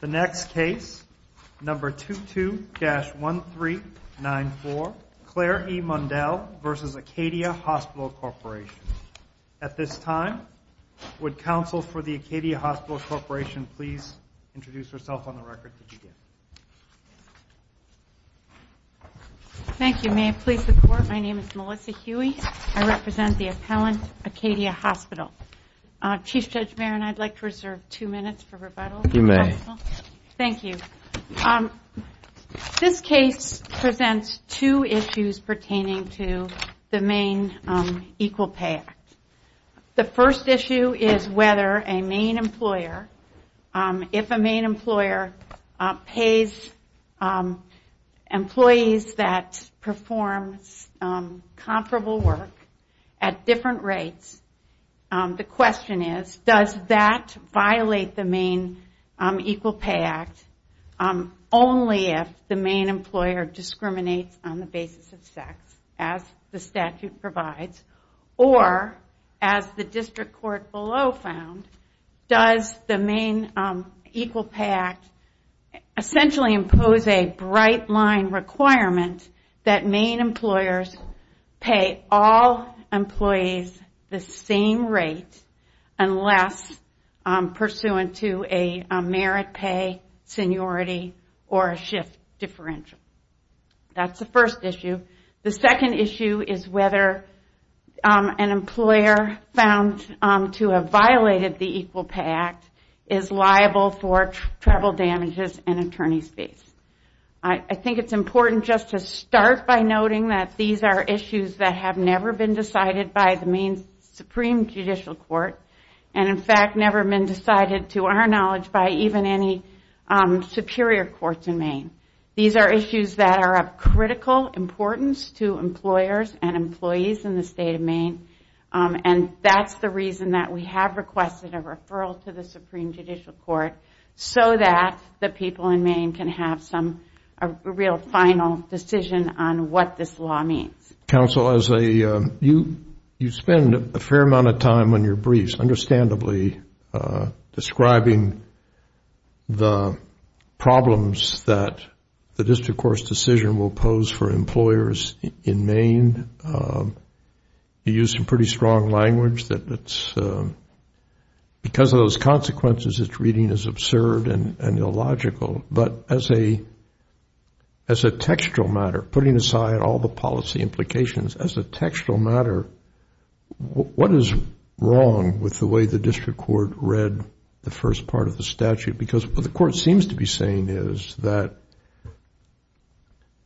The next case, No. 22-1394, Claire E. Mundell v. Acadia Hospital Corp. At this time, would counsel for the Acadia Hospital Corp. please introduce herself on the record? Thank you. May I please report? My name is Melissa Huey. I represent the appellant, Acadia Hospital. Chief Judge Maron, I'd like to reserve two minutes for rebuttal. If you may. Thank you. This case presents two issues pertaining to the Maine Equal Pay Act. The first issue is whether a Maine employer, if a Maine employer pays employees that perform comparable work at different rates, the question is, does that violate the Maine Equal Pay Act, only if the Maine employer discriminates on the basis of sex, as the statute provides, or, as the district court below found, does the Maine Equal Pay Act essentially impose a bright line requirement that Maine employers pay all employees the same rate unless pursuant to a merit pay seniority or a shift differential. That's the first issue. The second issue is whether an employer found to have violated the Equal Pay Act is liable for tribal damages and attorney's fees. I think it's important just to start by noting that these are issues that have never been decided by the Maine Supreme Judicial Court and, in fact, never been decided, to our knowledge, by even any superior courts in Maine. These are issues that are of critical importance to employers and employees in the state of Maine and that's the reason that we have requested a referral to the Supreme Judicial Court so that the people in Maine can have a real final decision on what this law means. Counsel, you spend a fair amount of time on your briefs, understandably, describing the problems that the district court's decision will pose for employers in Maine. You use some pretty strong language that's, because of those consequences, it's reading is absurd and illogical. But as a textual matter, putting aside all the policy implications, as a textual matter, what is wrong with the way the district court read the first part of the statute? Because what the court seems to be saying is that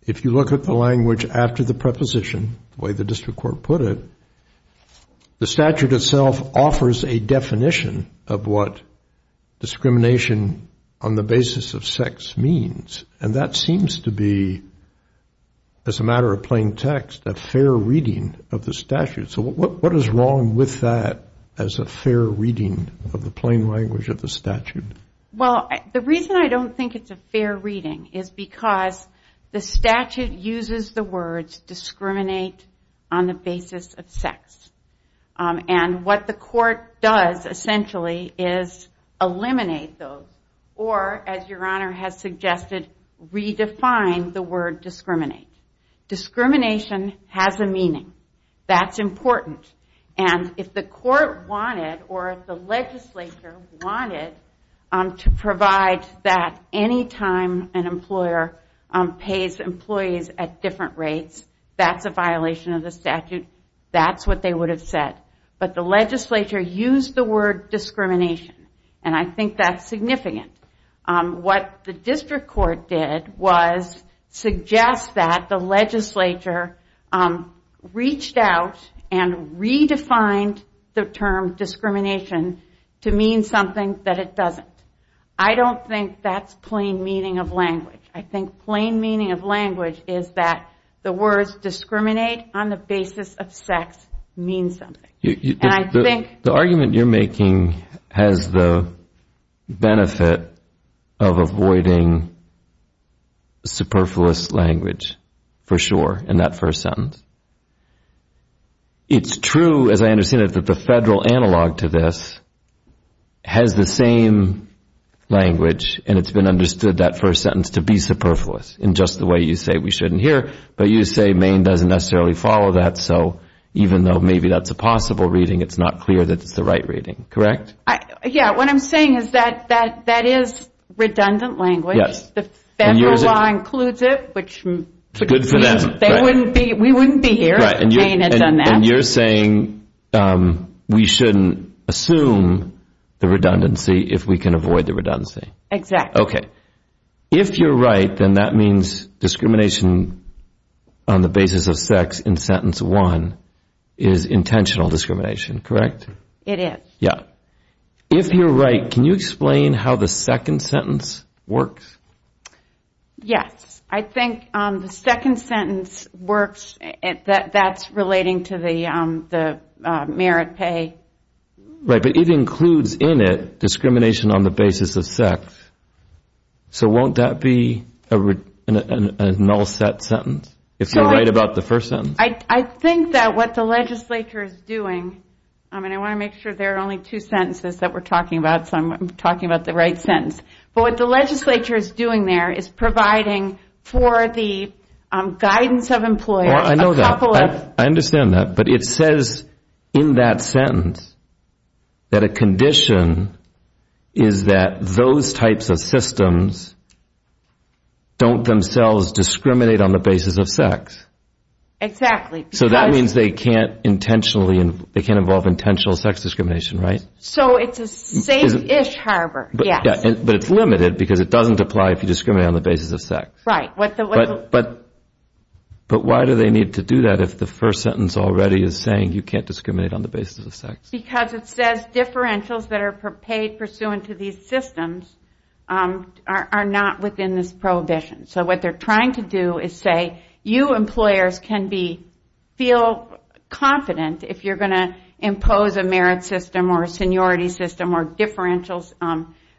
if you look at the language after the preposition, the way the district court put it, the statute itself offers a definition of what discrimination on the basis of sex means. And that seems to be, as a matter of plain text, a fair reading of the statute. So what is wrong with that as a fair reading of the plain language of the statute? Well, the reason I don't think it's a fair reading is because the statute uses the words discriminate on the basis of sex. And what the court does, essentially, is eliminate those or, as Your Honor has suggested, redefine the word discriminate. Discrimination has a meaning. That's important. And if the court wanted or if the legislature wanted to provide that any time an employer pays employees at different rates, that's a violation of the statute. That's what they would have said. But the legislature used the word discrimination. And I think that's significant. What the district court did was suggest that the legislature reached out and redefined the term discrimination to mean something that it doesn't. I don't think that's plain meaning of language. I think plain meaning of language is that the words discriminate on the basis of sex mean something. The argument you're making has the benefit of avoiding superfluous language, for sure, in that first sentence. It's true, as I understand it, that the federal analog to this has the same language, and it's been understood that first sentence to be superfluous, in just the way you say we shouldn't hear. But you say Maine doesn't necessarily follow that, so even though maybe that's a possible reading, it's not clear that it's the right reading, correct? Yeah, what I'm saying is that that is redundant language. The federal law includes it, which means we wouldn't be here if Maine had done that. And you're saying we shouldn't assume the redundancy if we can avoid the redundancy. Exactly. Okay. If you're right, then that means discrimination on the basis of sex in sentence one is intentional discrimination, correct? It is. Yeah. If you're right, can you explain how the second sentence works? Yes. I think the second sentence works. That's relating to the merit pay. Right, but it includes in it discrimination on the basis of sex. So won't that be a null set sentence, if you're right about the first sentence? I think that what the legislature is doing, I want to make sure there are only two sentences that we're talking about, so I'm talking about the right sentence. But what the legislature is doing there is providing for the guidance of employers a couple of... that a condition is that those types of systems don't themselves discriminate on the basis of sex. Exactly. So that means they can't involve intentional sex discrimination, right? So it's a safe-ish harbor, yes. But it's limited because it doesn't apply if you discriminate on the basis of sex. Right. But why do they need to do that if the first sentence already is saying you can't discriminate on the basis of sex? Because it says differentials that are paid pursuant to these systems are not within this prohibition. So what they're trying to do is say you employers can feel confident if you're going to impose a merit system or a seniority system or differentials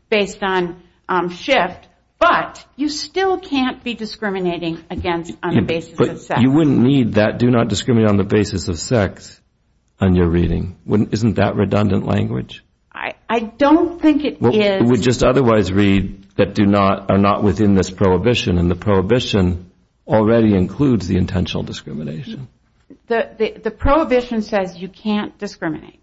based on shift, but you still can't be discriminating on the basis of sex. But you wouldn't need that, do not discriminate on the basis of sex, on your reading. Isn't that redundant language? I don't think it is. It would just otherwise read that do not, are not within this prohibition, and the prohibition already includes the intentional discrimination. The prohibition says you can't discriminate.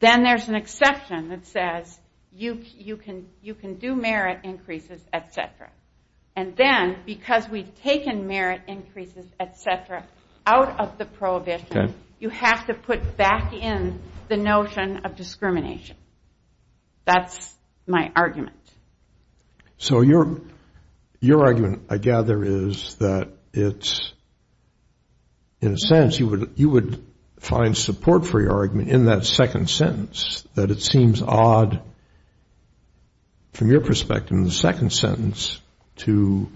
Then there's an exception that says you can do merit increases, et cetera. And then because we've taken merit increases, et cetera, out of the prohibition, you have to put back in the notion of discrimination. That's my argument. So your argument, I gather, is that it's, in a sense, you would find support for your argument in that second sentence, that it seems odd from your perspective in the second sentence to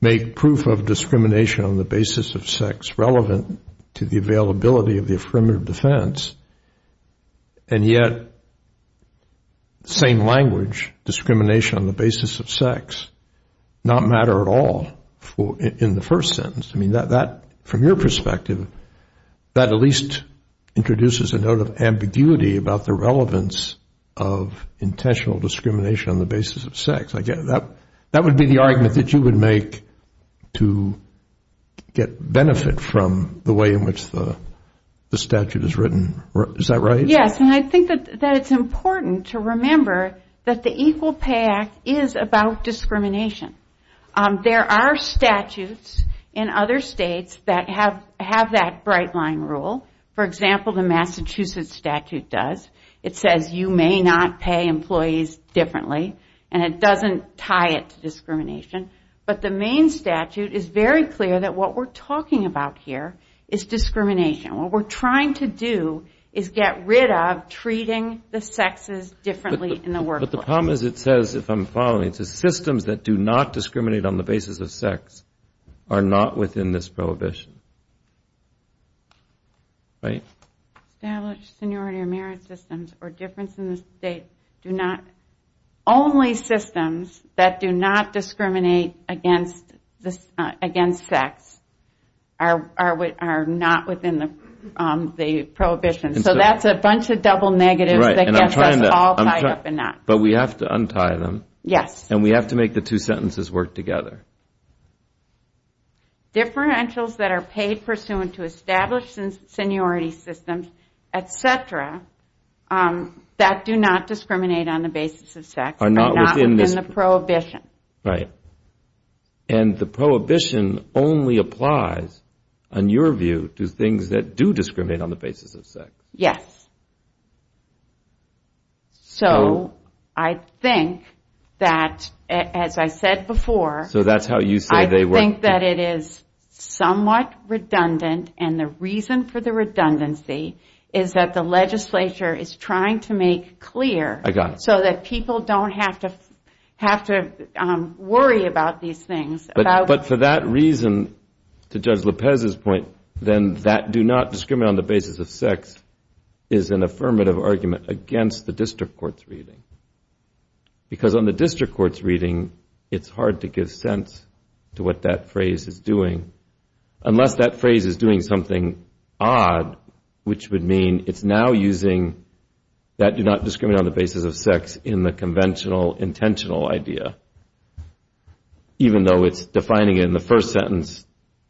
make proof of discrimination on the basis of sex relevant to the availability of the affirmative defense, and yet, same language, discrimination on the basis of sex, not matter at all in the first sentence. I mean, from your perspective, that at least introduces a note of ambiguity about the relevance of intentional discrimination on the basis of sex. That would be the argument that you would make to get benefit from the way in which the statute is written. Is that right? Yes. And I think that it's important to remember that the Equal Pay Act is about discrimination. There are statutes in other states that have that bright line rule. For example, the Massachusetts statute does. It says you may not pay employees differently, and it doesn't tie it to discrimination. But the Maine statute is very clear that what we're talking about here is discrimination. What we're trying to do is get rid of treating the sexes differently in the workplace. But the problem is it says, if I'm following, it says systems that do not discriminate on the basis of sex are not within this prohibition. Right? Established seniority or merit systems or differences in the state do not. Only systems that do not discriminate against sex are not within the prohibition. So that's a bunch of double negatives that gets us all tied up in knots. But we have to untie them. Yes. And we have to make the two sentences work together. Differentials that are paid pursuant to established seniority systems, et cetera, that do not discriminate on the basis of sex are not within the prohibition. Right. And the prohibition only applies, in your view, to things that do discriminate on the basis of sex. Yes. So I think that, as I said before. So that's how you say they work. I think that it is somewhat redundant. And the reason for the redundancy is that the legislature is trying to make clear. I got it. So that people don't have to worry about these things. But for that reason, to Judge Lopez's point, then that do not discriminate on the basis of sex is an affirmative argument against the district court's reading. Because on the district court's reading, it's hard to give sense to what that phrase is doing. Unless that phrase is doing something odd, which would mean it's now using that do not discriminate on the basis of sex in the conventional intentional idea. Even though it's defining it in the first sentence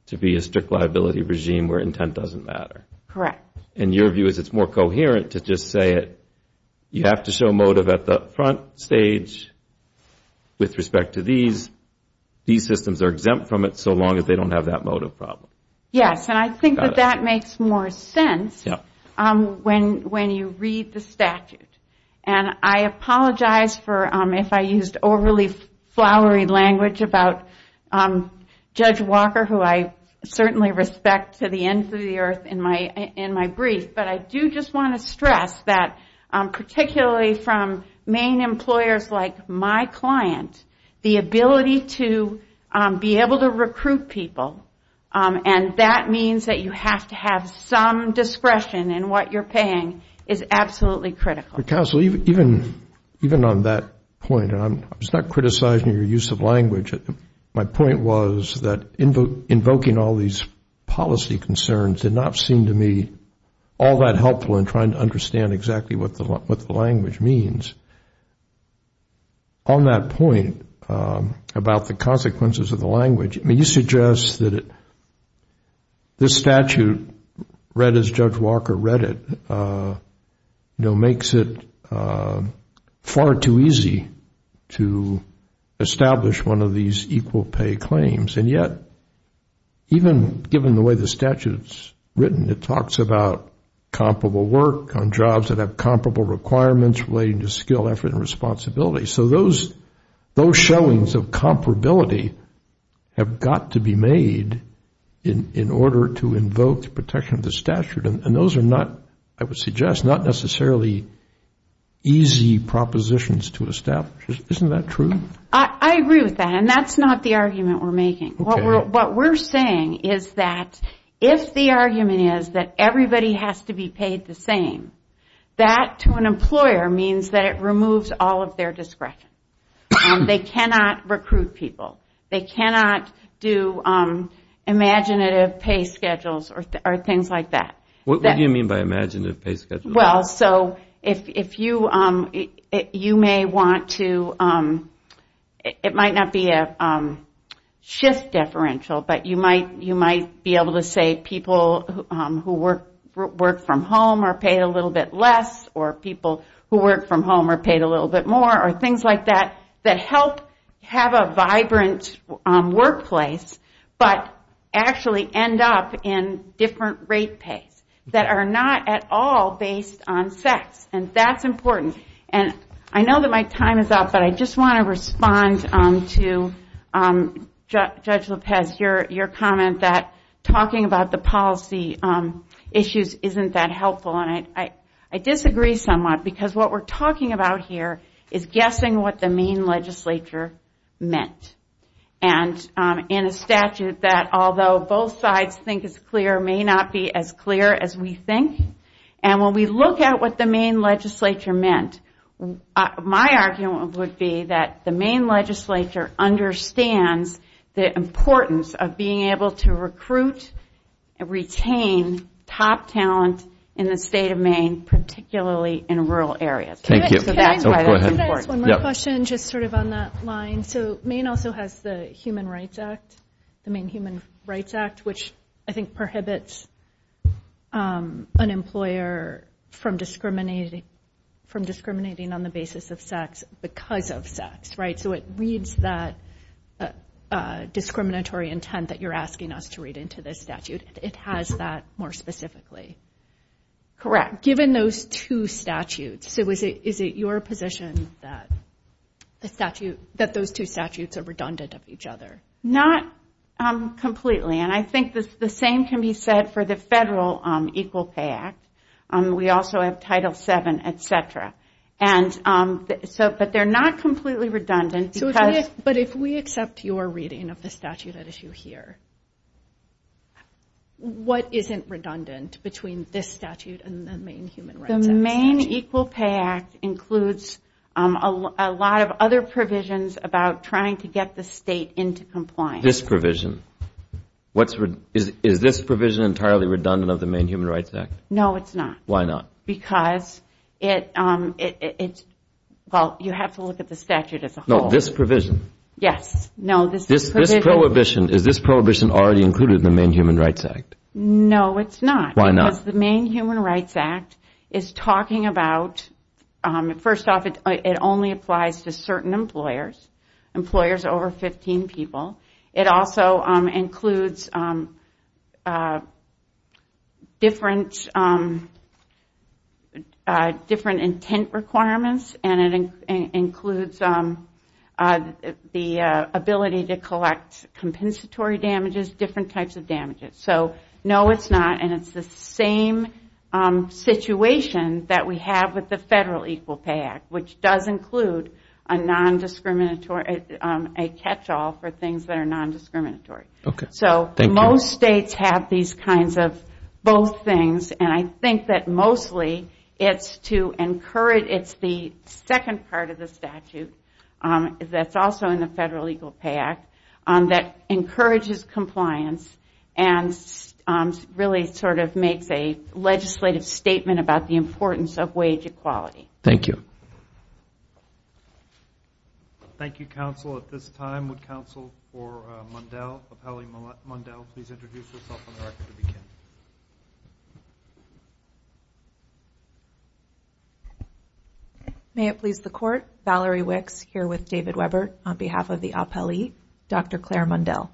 to be a strict liability regime where intent doesn't matter. Correct. And your view is it's more coherent to just say it. You have to show motive at the front stage with respect to these. These systems are exempt from it so long as they don't have that motive problem. Yes. And I think that that makes more sense when you read the statute. And I apologize if I used overly flowery language about Judge Walker, who I certainly respect to the end of the earth in my brief. But I do just want to stress that particularly from main employers like my client, the ability to be able to recruit people, and that means that you have to have some discretion in what you're paying is absolutely critical. Counsel, even on that point, I was not criticizing your use of language. My point was that invoking all these policy concerns did not seem to me all that helpful in trying to understand exactly what the language means. On that point about the consequences of the language, you suggest that this statute, read as Judge Walker read it, makes it far too easy to establish one of these equal pay claims. And yet, even given the way the statute is written, it talks about comparable work on jobs that have comparable requirements relating to skill, effort, and responsibility. So those showings of comparability have got to be made in order to invoke the protection of the statute. And those are not, I would suggest, not necessarily easy propositions to establish. Isn't that true? I agree with that. And that's not the argument we're making. What we're saying is that if the argument is that everybody has to be paid the same, that to an employer means that it removes all of their discretion. They cannot recruit people. They cannot do imaginative pay schedules or things like that. What do you mean by imaginative pay schedules? Well, so if you may want to, it might not be a shift differential, but you might be able to say people who work from home are paid a little bit less, or people who work from home are paid a little bit more, or things like that, that help have a vibrant workplace, but actually end up in different rate pays that are not at all based on sex. And that's important. And I know that my time is up, but I just want to respond to Judge Lopez, your comment that talking about the policy issues isn't that helpful. And I disagree somewhat because what we're talking about here is guessing what the main legislature meant. And in a statute that, although both sides think is clear, may not be as clear as we think. And when we look at what the main legislature meant, my argument would be that the main legislature understands the importance of being able to recruit and retain top talent in the state of Maine, particularly in rural areas. Thank you. Can I ask one more question just sort of on that line? So Maine also has the Human Rights Act, the Maine Human Rights Act, which I think prohibits an employer from discriminating on the basis of sex because of sex, right? So it reads that discriminatory intent that you're asking us to read into this statute. It has that more specifically. Correct. Given those two statutes, is it your position that those two statutes are redundant of each other? Not completely. And I think the same can be said for the federal Equal Pay Act. We also have Title VII, et cetera. But they're not completely redundant. But if we accept your reading of the statute at issue here, what isn't redundant between this statute and the Maine Human Rights Act? The Maine Equal Pay Act includes a lot of other provisions about trying to get the state into compliance. This provision? Is this provision entirely redundant of the Maine Human Rights Act? No, it's not. Why not? Well, you have to look at the statute as a whole. No, this provision. Yes. No, this provision. Is this prohibition already included in the Maine Human Rights Act? No, it's not. Why not? Because the Maine Human Rights Act is talking about, first off, it only applies to certain employers, employers over 15 people. It also includes different intent requirements, and it includes the ability to collect compensatory damages, different types of damages. So, no, it's not, and it's the same situation that we have with the federal Equal Pay Act, which does include a non-discriminatory, a catch-all for things that are non-discriminatory. Okay. Thank you. So, most states have these kinds of both things, and I think that mostly it's to encourage, it's the second part of the statute that's also in the federal Equal Pay Act that encourages compliance and really sort of makes a legislative statement about the importance of wage equality. Thank you. Thank you, counsel. At this time, would counsel for Mundell, appellee Mundell, please introduce herself and direct her to the camera. May it please the Court, Valerie Wicks here with David Weber on behalf of the appellee, Dr. Claire Mundell.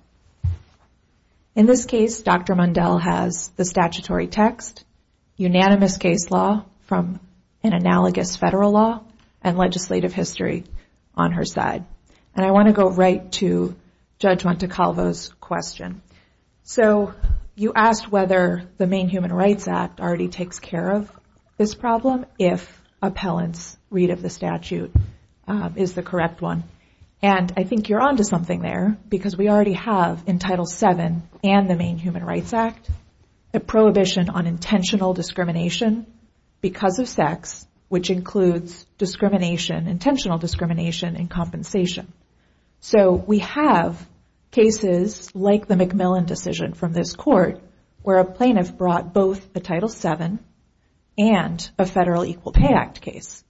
In this case, Dr. Mundell has the statutory text, unanimous case law from an analogous federal law, and legislative history on her side. And I want to go right to Judge Montecalvo's question. So, you asked whether the Maine Human Rights Act already takes care of this problem if appellant's read of the statute is the correct one. And I think you're onto something there, because we already have in Title VII and the Maine Human Rights Act a prohibition on intentional discrimination because of sex, which includes discrimination, intentional discrimination, and compensation. So, we have cases like the McMillan decision from this Court, where a plaintiff brought both a Title VII and a federal Equal Pay Act case.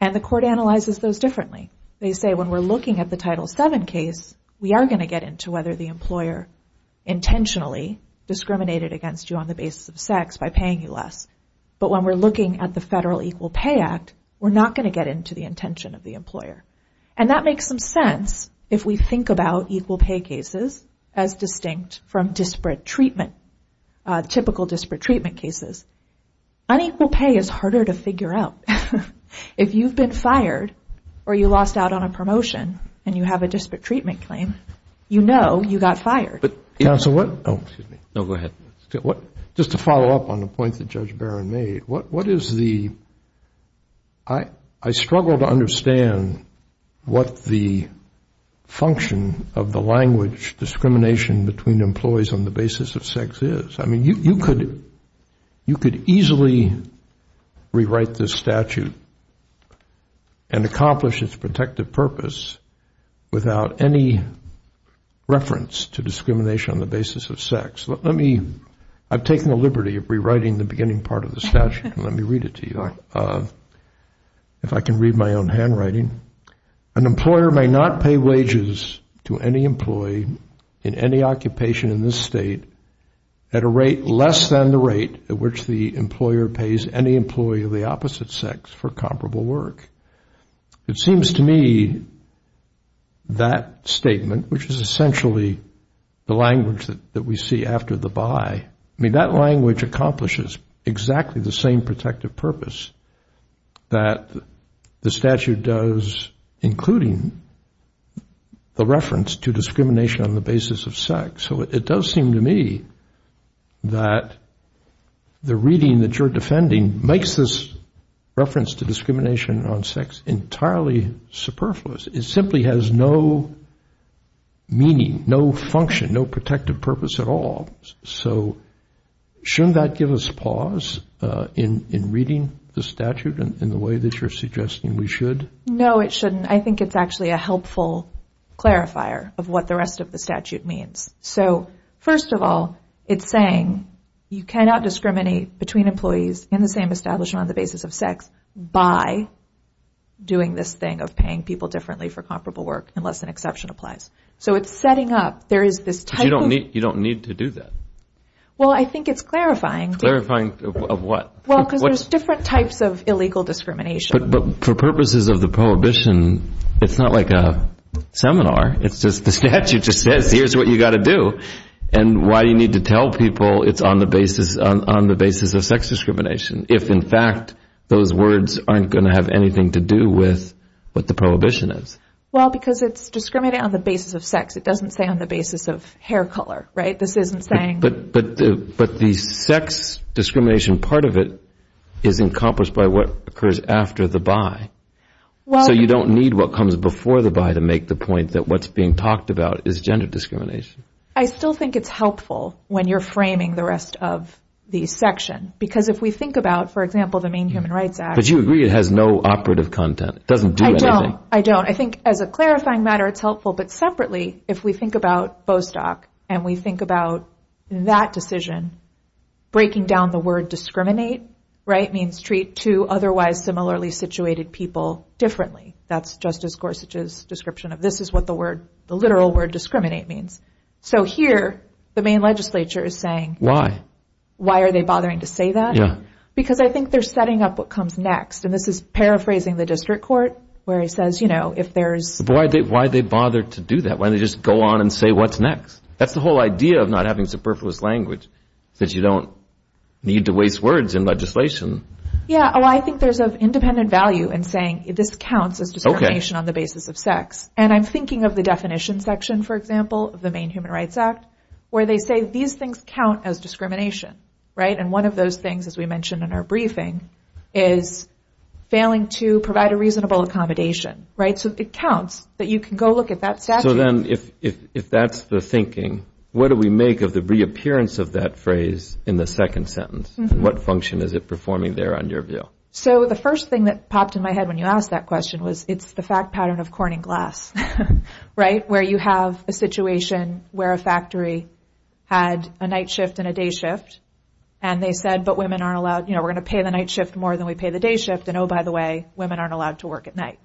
And the Court analyzes those differently. They say when we're looking at the Title VII case, we are going to get into whether the employer intentionally discriminated against you on the basis of sex by paying you less. But when we're looking at the federal Equal Pay Act, we're not going to get into the intention of the employer. And that makes some sense if we think about equal pay cases as distinct from disparate treatment, typical disparate treatment cases. Unequal pay is harder to figure out. If you've been fired or you lost out on a promotion and you have a disparate treatment claim, you know you got fired. Counsel, what? Oh, excuse me. No, go ahead. Just to follow up on the point that Judge Barron made, what is the, I struggle to understand what the function of the language, discrimination between employees on the basis of sex is. I mean, you could easily rewrite this statute and accomplish its protective purpose without any reference to discrimination on the basis of sex. Let me, I've taken the liberty of rewriting the beginning part of the statute. Let me read it to you. If I can read my own handwriting. An employer may not pay wages to any employee in any occupation in this state at a rate less than the rate at which the employer pays any employee of the opposite sex for comparable work. It seems to me that statement, which is essentially the language that we see after the by, I mean, that language accomplishes exactly the same protective purpose that the statute does, including the reference to discrimination on the basis of sex. So it does seem to me that the reading that you're defending makes this reference to discrimination on sex entirely superfluous. It simply has no meaning, no function, no protective purpose at all. So shouldn't that give us pause in reading the statute in the way that you're suggesting we should? No, it shouldn't. I think it's actually a helpful clarifier of what the rest of the statute means. So first of all, it's saying you cannot discriminate between employees in the same establishment on the basis of sex by doing this thing of paying people differently for comparable work unless an exception applies. So it's setting up, there is this type of. You don't need to do that. Well, I think it's clarifying. Clarifying of what? Well, because there's different types of illegal discrimination. But for purposes of the prohibition, it's not like a seminar. It's just the statute just says here's what you've got to do. And why do you need to tell people it's on the basis of sex discrimination if in fact those words aren't going to have anything to do with what the prohibition is? Well, because it's discriminating on the basis of sex. It doesn't say on the basis of hair color, right? But the sex discrimination part of it is encompassed by what occurs after the by. So you don't need what comes before the by to make the point that what's being talked about is gender discrimination. I still think it's helpful when you're framing the rest of the section because if we think about, for example, the Maine Human Rights Act. But you agree it has no operative content. It doesn't do anything. I don't. I think as a clarifying matter, it's helpful. But separately, if we think about Bostock and we think about that decision, breaking down the word discriminate, right, means treat two otherwise similarly situated people differently. That's Justice Gorsuch's description of this is what the word, the literal word discriminate means. So here the Maine legislature is saying. Why? Why are they bothering to say that? Yeah. Because I think they're setting up what comes next. And this is paraphrasing the district court where he says, you know, if there is. Why they bother to do that when they just go on and say what's next. That's the whole idea of not having superfluous language that you don't need to waste words in legislation. Yeah. Oh, I think there's an independent value in saying this counts as discrimination on the basis of sex. And I'm thinking of the definition section, for example, of the Maine Human Rights Act, where they say these things count as discrimination. Right. And one of those things, as we mentioned in our briefing, is failing to provide a reasonable accommodation. Right. So it counts that you can go look at that statute. So then if that's the thinking, what do we make of the reappearance of that phrase in the second sentence? What function is it performing there on your view? So the first thing that popped in my head when you asked that question was it's the fact pattern of corning glass. Right. Where you have a situation where a factory had a night shift and a day shift, and they said, but women aren't allowed, you know, we're going to pay the night shift more than we pay the day shift. And, oh, by the way, women aren't allowed to work at night.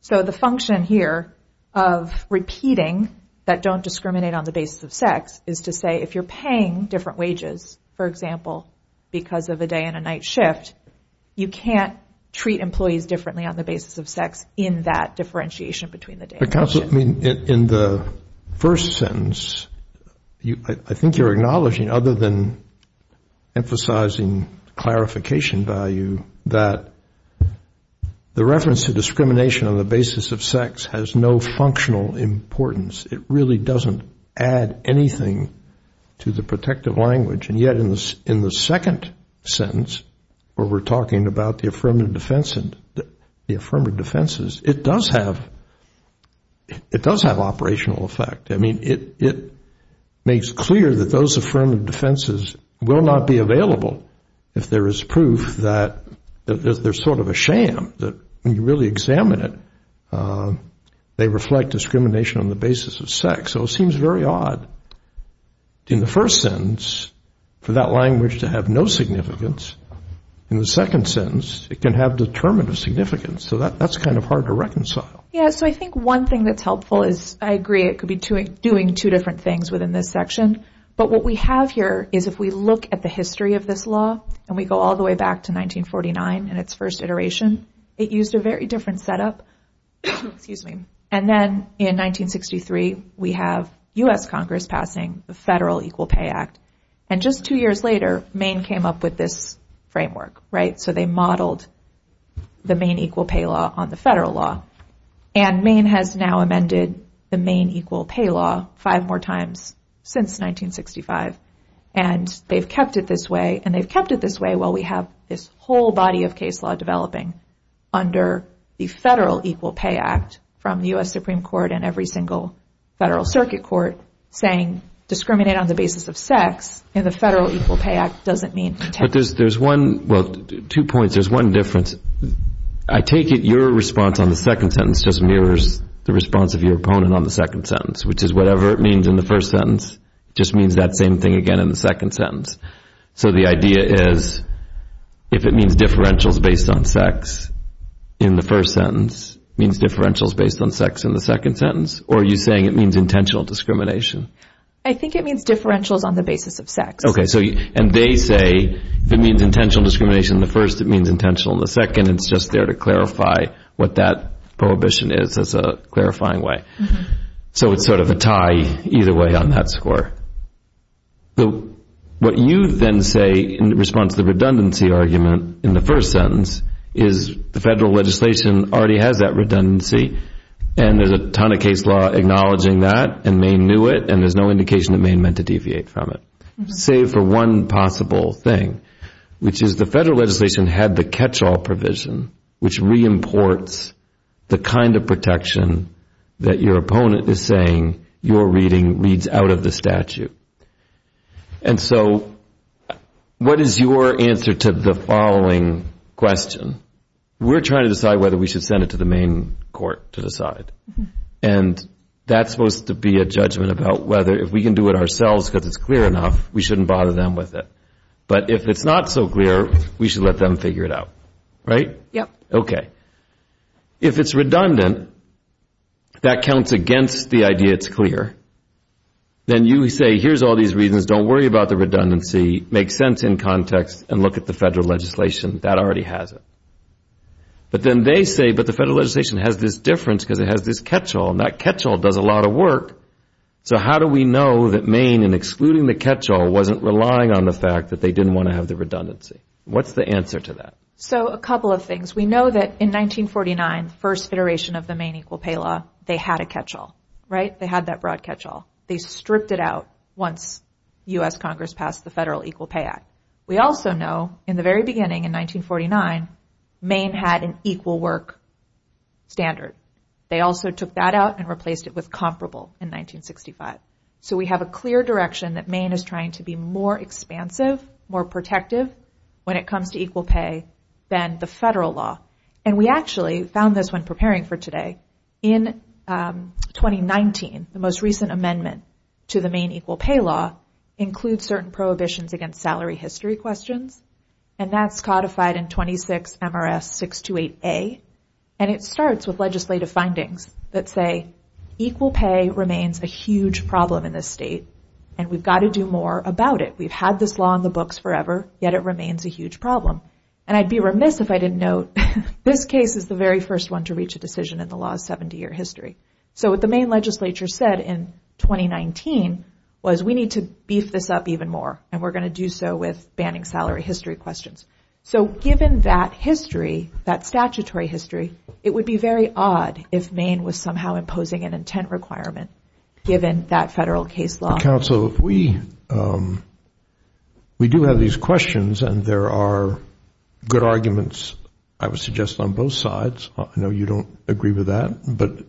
So the function here of repeating that don't discriminate on the basis of sex is to say if you're paying different wages, for example, because of a day and a night shift, you can't treat employees differently on the basis of sex in that differentiation between the day and night shift. In the first sentence, I think you're acknowledging, other than emphasizing clarification value, that the reference to discrimination on the basis of sex has no functional importance. It really doesn't add anything to the protective language. And yet in the second sentence, where we're talking about the affirmative defense and the affirmative defenses, it does have operational effect. I mean, it makes clear that those affirmative defenses will not be available if there is proof that there's sort of a sham, that when you really examine it, they reflect discrimination on the basis of sex. So it seems very odd. In the first sentence, for that language to have no significance, in the second sentence, it can have determinative significance. So that's kind of hard to reconcile. Yeah, so I think one thing that's helpful is I agree it could be doing two different things within this section. But what we have here is if we look at the history of this law, and we go all the way back to 1949 and its first iteration, it used a very different setup. And then in 1963, we have U.S. Congress passing the Federal Equal Pay Act. And just two years later, Maine came up with this framework, right? So they modeled the Maine Equal Pay Law on the federal law. And Maine has now amended the Maine Equal Pay Law five more times since 1965. And they've kept it this way, and they've kept it this way while we have this whole body of case law developing under the Federal Equal Pay Act from the U.S. Supreme Court and every single federal circuit court, saying discriminate on the basis of sex, and the Federal Equal Pay Act doesn't mean. But there's one, well, two points. There's one difference. I take it your response on the second sentence just mirrors the response of your opponent on the second sentence, which is whatever it means in the first sentence just means that same thing again in the second sentence. So the idea is if it means differentials based on sex in the first sentence, it means differentials based on sex in the second sentence, or are you saying it means intentional discrimination? I think it means differentials on the basis of sex. Okay. And they say if it means intentional discrimination in the first, it means intentional in the second. It's just there to clarify what that prohibition is as a clarifying way. So it's sort of a tie either way on that score. So what you then say in response to the redundancy argument in the first sentence is the federal legislation already has that redundancy, and there's a ton of case law acknowledging that, and Maine knew it, and there's no indication that Maine meant to deviate from it, save for one possible thing, which is the federal legislation had the catch-all provision, which re-imports the kind of protection that your opponent is saying your reading reads out of the statute. And so what is your answer to the following question? We're trying to decide whether we should send it to the Maine court to decide, and that's supposed to be a judgment about whether if we can do it ourselves because it's clear enough, we shouldn't bother them with it. But if it's not so clear, we should let them figure it out. Right? Yep. Okay. If it's redundant, that counts against the idea it's clear. Then you say here's all these reasons, don't worry about the redundancy, make sense in context, and look at the federal legislation, that already has it. But then they say, but the federal legislation has this difference because it has this catch-all, and that catch-all does a lot of work. So how do we know that Maine, in excluding the catch-all, wasn't relying on the fact that they didn't want to have the redundancy? What's the answer to that? So a couple of things. We know that in 1949, the first federation of the Maine Equal Pay Law, they had a catch-all. Right? They had that broad catch-all. They stripped it out once U.S. Congress passed the Federal Equal Pay Act. We also know, in the very beginning, in 1949, Maine had an equal work standard. They also took that out and replaced it with comparable in 1965. So we have a clear direction that Maine is trying to be more expansive, more protective when it comes to equal pay than the federal law. And we actually found this when preparing for today. In 2019, the most recent amendment to the Maine Equal Pay Law includes certain prohibitions against salary history questions, and that's codified in 26 MRS 628A. And it starts with legislative findings that say equal pay remains a huge problem in this state, and we've got to do more about it. We've had this law in the books forever, yet it remains a huge problem. And I'd be remiss if I didn't note, this case is the very first one to reach a decision in the law's 70-year history. So what the Maine legislature said in 2019 was we need to beef this up even more, and we're going to do so with banning salary history questions. So given that history, that statutory history, it would be very odd if Maine was somehow imposing an intent requirement, given that federal case law. Opposing counsel, we do have these questions, and there are good arguments, I would suggest, on both sides. I know you don't agree with that, but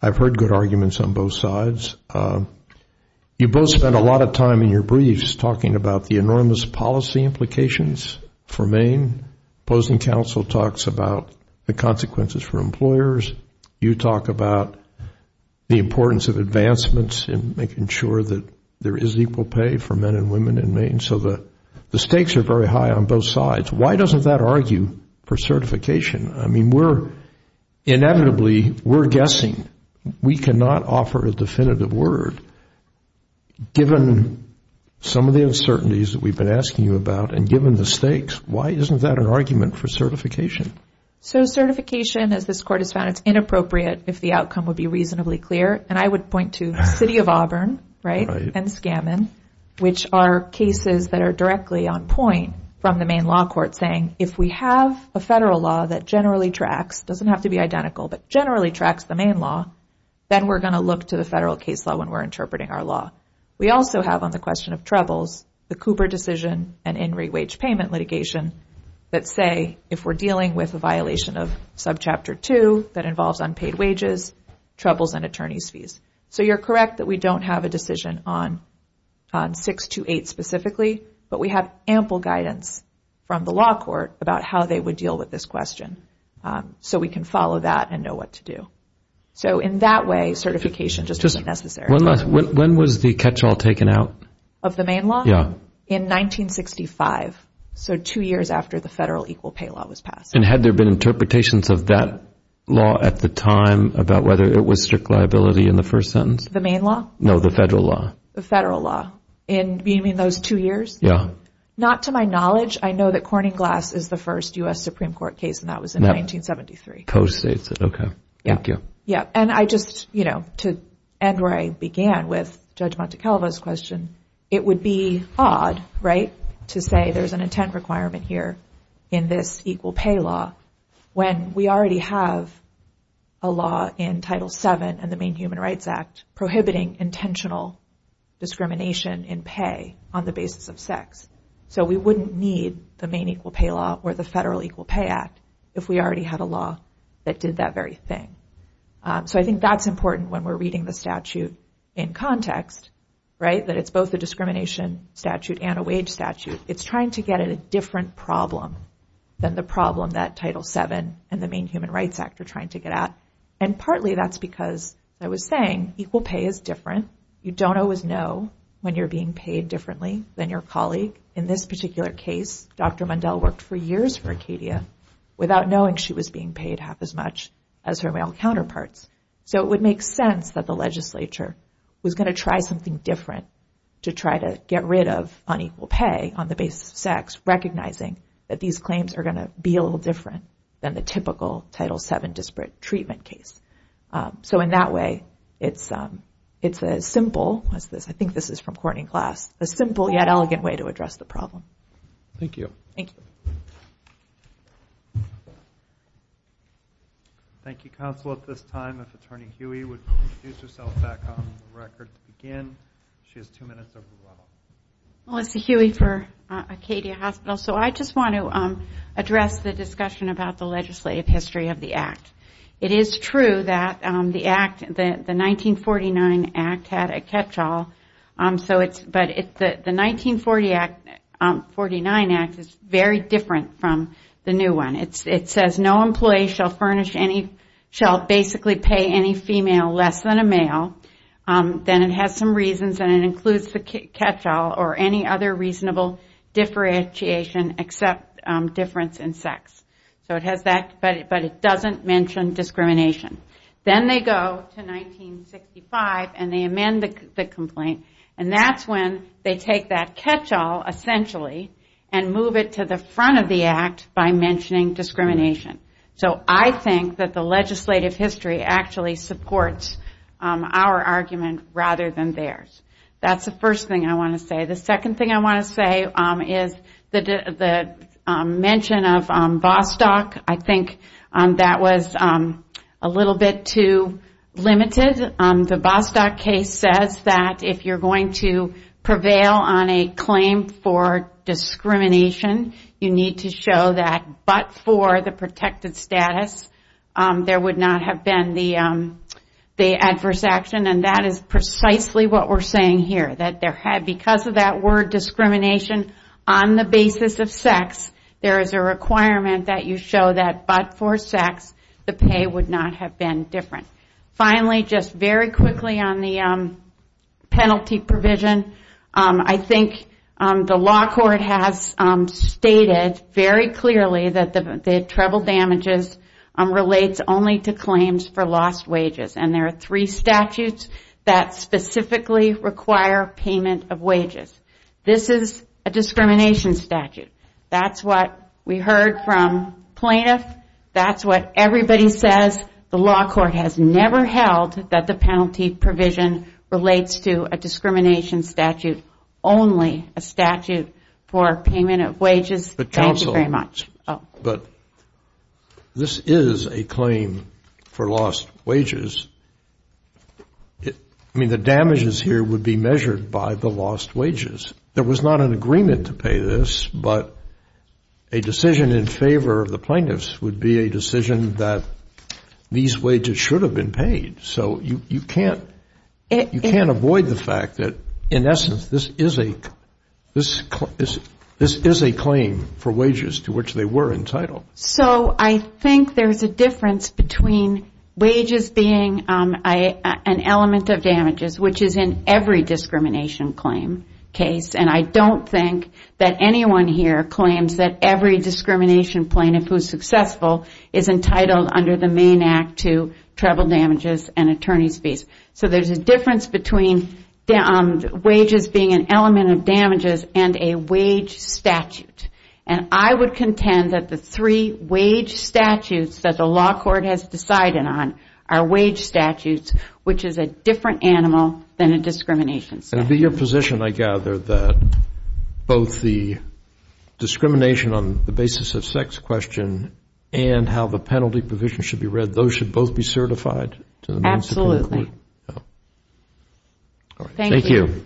I've heard good arguments on both sides. You both spent a lot of time in your briefs talking about the enormous policy implications for Maine. Opposing counsel talks about the consequences for employers. You talk about the importance of advancements in making sure that there is equal pay for men and women in Maine. So the stakes are very high on both sides. Why doesn't that argue for certification? I mean, we're inevitably, we're guessing. We cannot offer a definitive word, given some of the uncertainties that we've been asking you about, and given the stakes, why isn't that an argument for certification? So certification, as this court has found, it's inappropriate if the outcome would be reasonably clear. And I would point to the city of Auburn, right, and Scammon, which are cases that are directly on point from the Maine law court, saying if we have a federal law that generally tracks, doesn't have to be identical, but generally tracks the Maine law, then we're going to look to the federal case law when we're interpreting our law. We also have, on the question of troubles, the Cooper decision and in re-wage payment litigation that say if we're dealing with a violation of subchapter 2 that involves unpaid wages, troubles, and attorney's fees. So you're correct that we don't have a decision on 628 specifically, but we have ample guidance from the law court about how they would deal with this question. So we can follow that and know what to do. So in that way, certification just isn't necessary. When was the catch-all taken out? Of the Maine law? Yeah. In 1965. So two years after the federal equal pay law was passed. And had there been interpretations of that law at the time about whether it was strict liability in the first sentence? The Maine law? No, the federal law. The federal law. In those two years? Yeah. Not to my knowledge. I know that Corning Glass is the first U.S. Supreme Court case, and that was in 1973. Co-states it. Okay. Thank you. Yeah, and I just, you know, to end where I began with Judge Montecalvo's question, it would be odd, right, to say there's an intent requirement here in this equal pay law when we already have a law in Title VII and the Maine Human Rights Act prohibiting intentional discrimination in pay on the basis of sex. So we wouldn't need the Maine equal pay law or the federal equal pay act if we already had a law that did that very thing. So I think that's important when we're reading the statute in context, right, that it's both a discrimination statute and a wage statute. It's trying to get at a different problem than the problem that Title VII and the Maine Human Rights Act are trying to get at, and partly that's because, as I was saying, equal pay is different. You don't always know when you're being paid differently than your colleague. In this particular case, Dr. Mundell worked for years for Acadia without knowing she was being paid half as much as her male counterparts. So it would make sense that the legislature was going to try something different to try to get rid of unequal pay on the basis of sex, recognizing that these claims are going to be a little different than the typical Title VII disparate treatment case. So in that way, it's as simple as this. I think this is from Courtney Glass. A simple yet elegant way to address the problem. Thank you. Thank you. Thank you, Counsel. At this time, if Attorney Huey would introduce herself back on the record to begin. She has two minutes over the line. Melissa Huey for Acadia Hospital. So I just want to address the discussion about the legislative history of the Act. It is true that the Act, the 1949 Act had a catch-all, but the 1949 Act is very different from the new one. It says, no employee shall basically pay any female less than a male. Then it has some reasons, and it includes the catch-all or any other reasonable differentiation except difference in sex. But it doesn't mention discrimination. Then they go to 1965 and they amend the complaint, and that's when they take that catch-all, essentially, and move it to the front of the Act by mentioning discrimination. So I think that the legislative history actually supports our argument rather than theirs. That's the first thing I want to say. The second thing I want to say is the mention of Bostock. I think that was a little bit too limited. The Bostock case says that if you're going to prevail on a claim for discrimination, you need to show that but for the protected status, there would not have been the adverse action, and that is precisely what we're saying here. Because of that word discrimination, on the basis of sex, there is a requirement that you show that but for sex, the pay would not have been different. Finally, just very quickly on the penalty provision, I think the law court has stated very clearly that the treble damages relates only to claims for lost wages, and there are three statutes that specifically require payment of wages. This is a discrimination statute. That's what we heard from plaintiffs. That's what everybody says. The law court has never held that the penalty provision relates to a discrimination statute, only a statute for payment of wages. Thank you very much. But this is a claim for lost wages. I mean, the damages here would be measured by the lost wages. There was not an agreement to pay this, but a decision in favor of the plaintiffs would be a decision that these wages should have been paid. So you can't avoid the fact that, in essence, this is a claim for wages to which they were entitled. So I think there's a difference between wages being an element of damages, which is in every discrimination claim case, and I don't think that anyone here claims that every discrimination plaintiff who is successful is entitled under the Maine Act to travel damages and attorney's fees. So there's a difference between wages being an element of damages and a wage statute. And I would contend that the three wage statutes that the law court has decided on are wage statutes, which is a different animal than a discrimination statute. It would be your position, I gather, that both the discrimination on the basis of sex question and how the penalty provision should be read, those should both be certified? Absolutely. Thank you.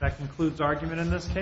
That concludes argument in this case.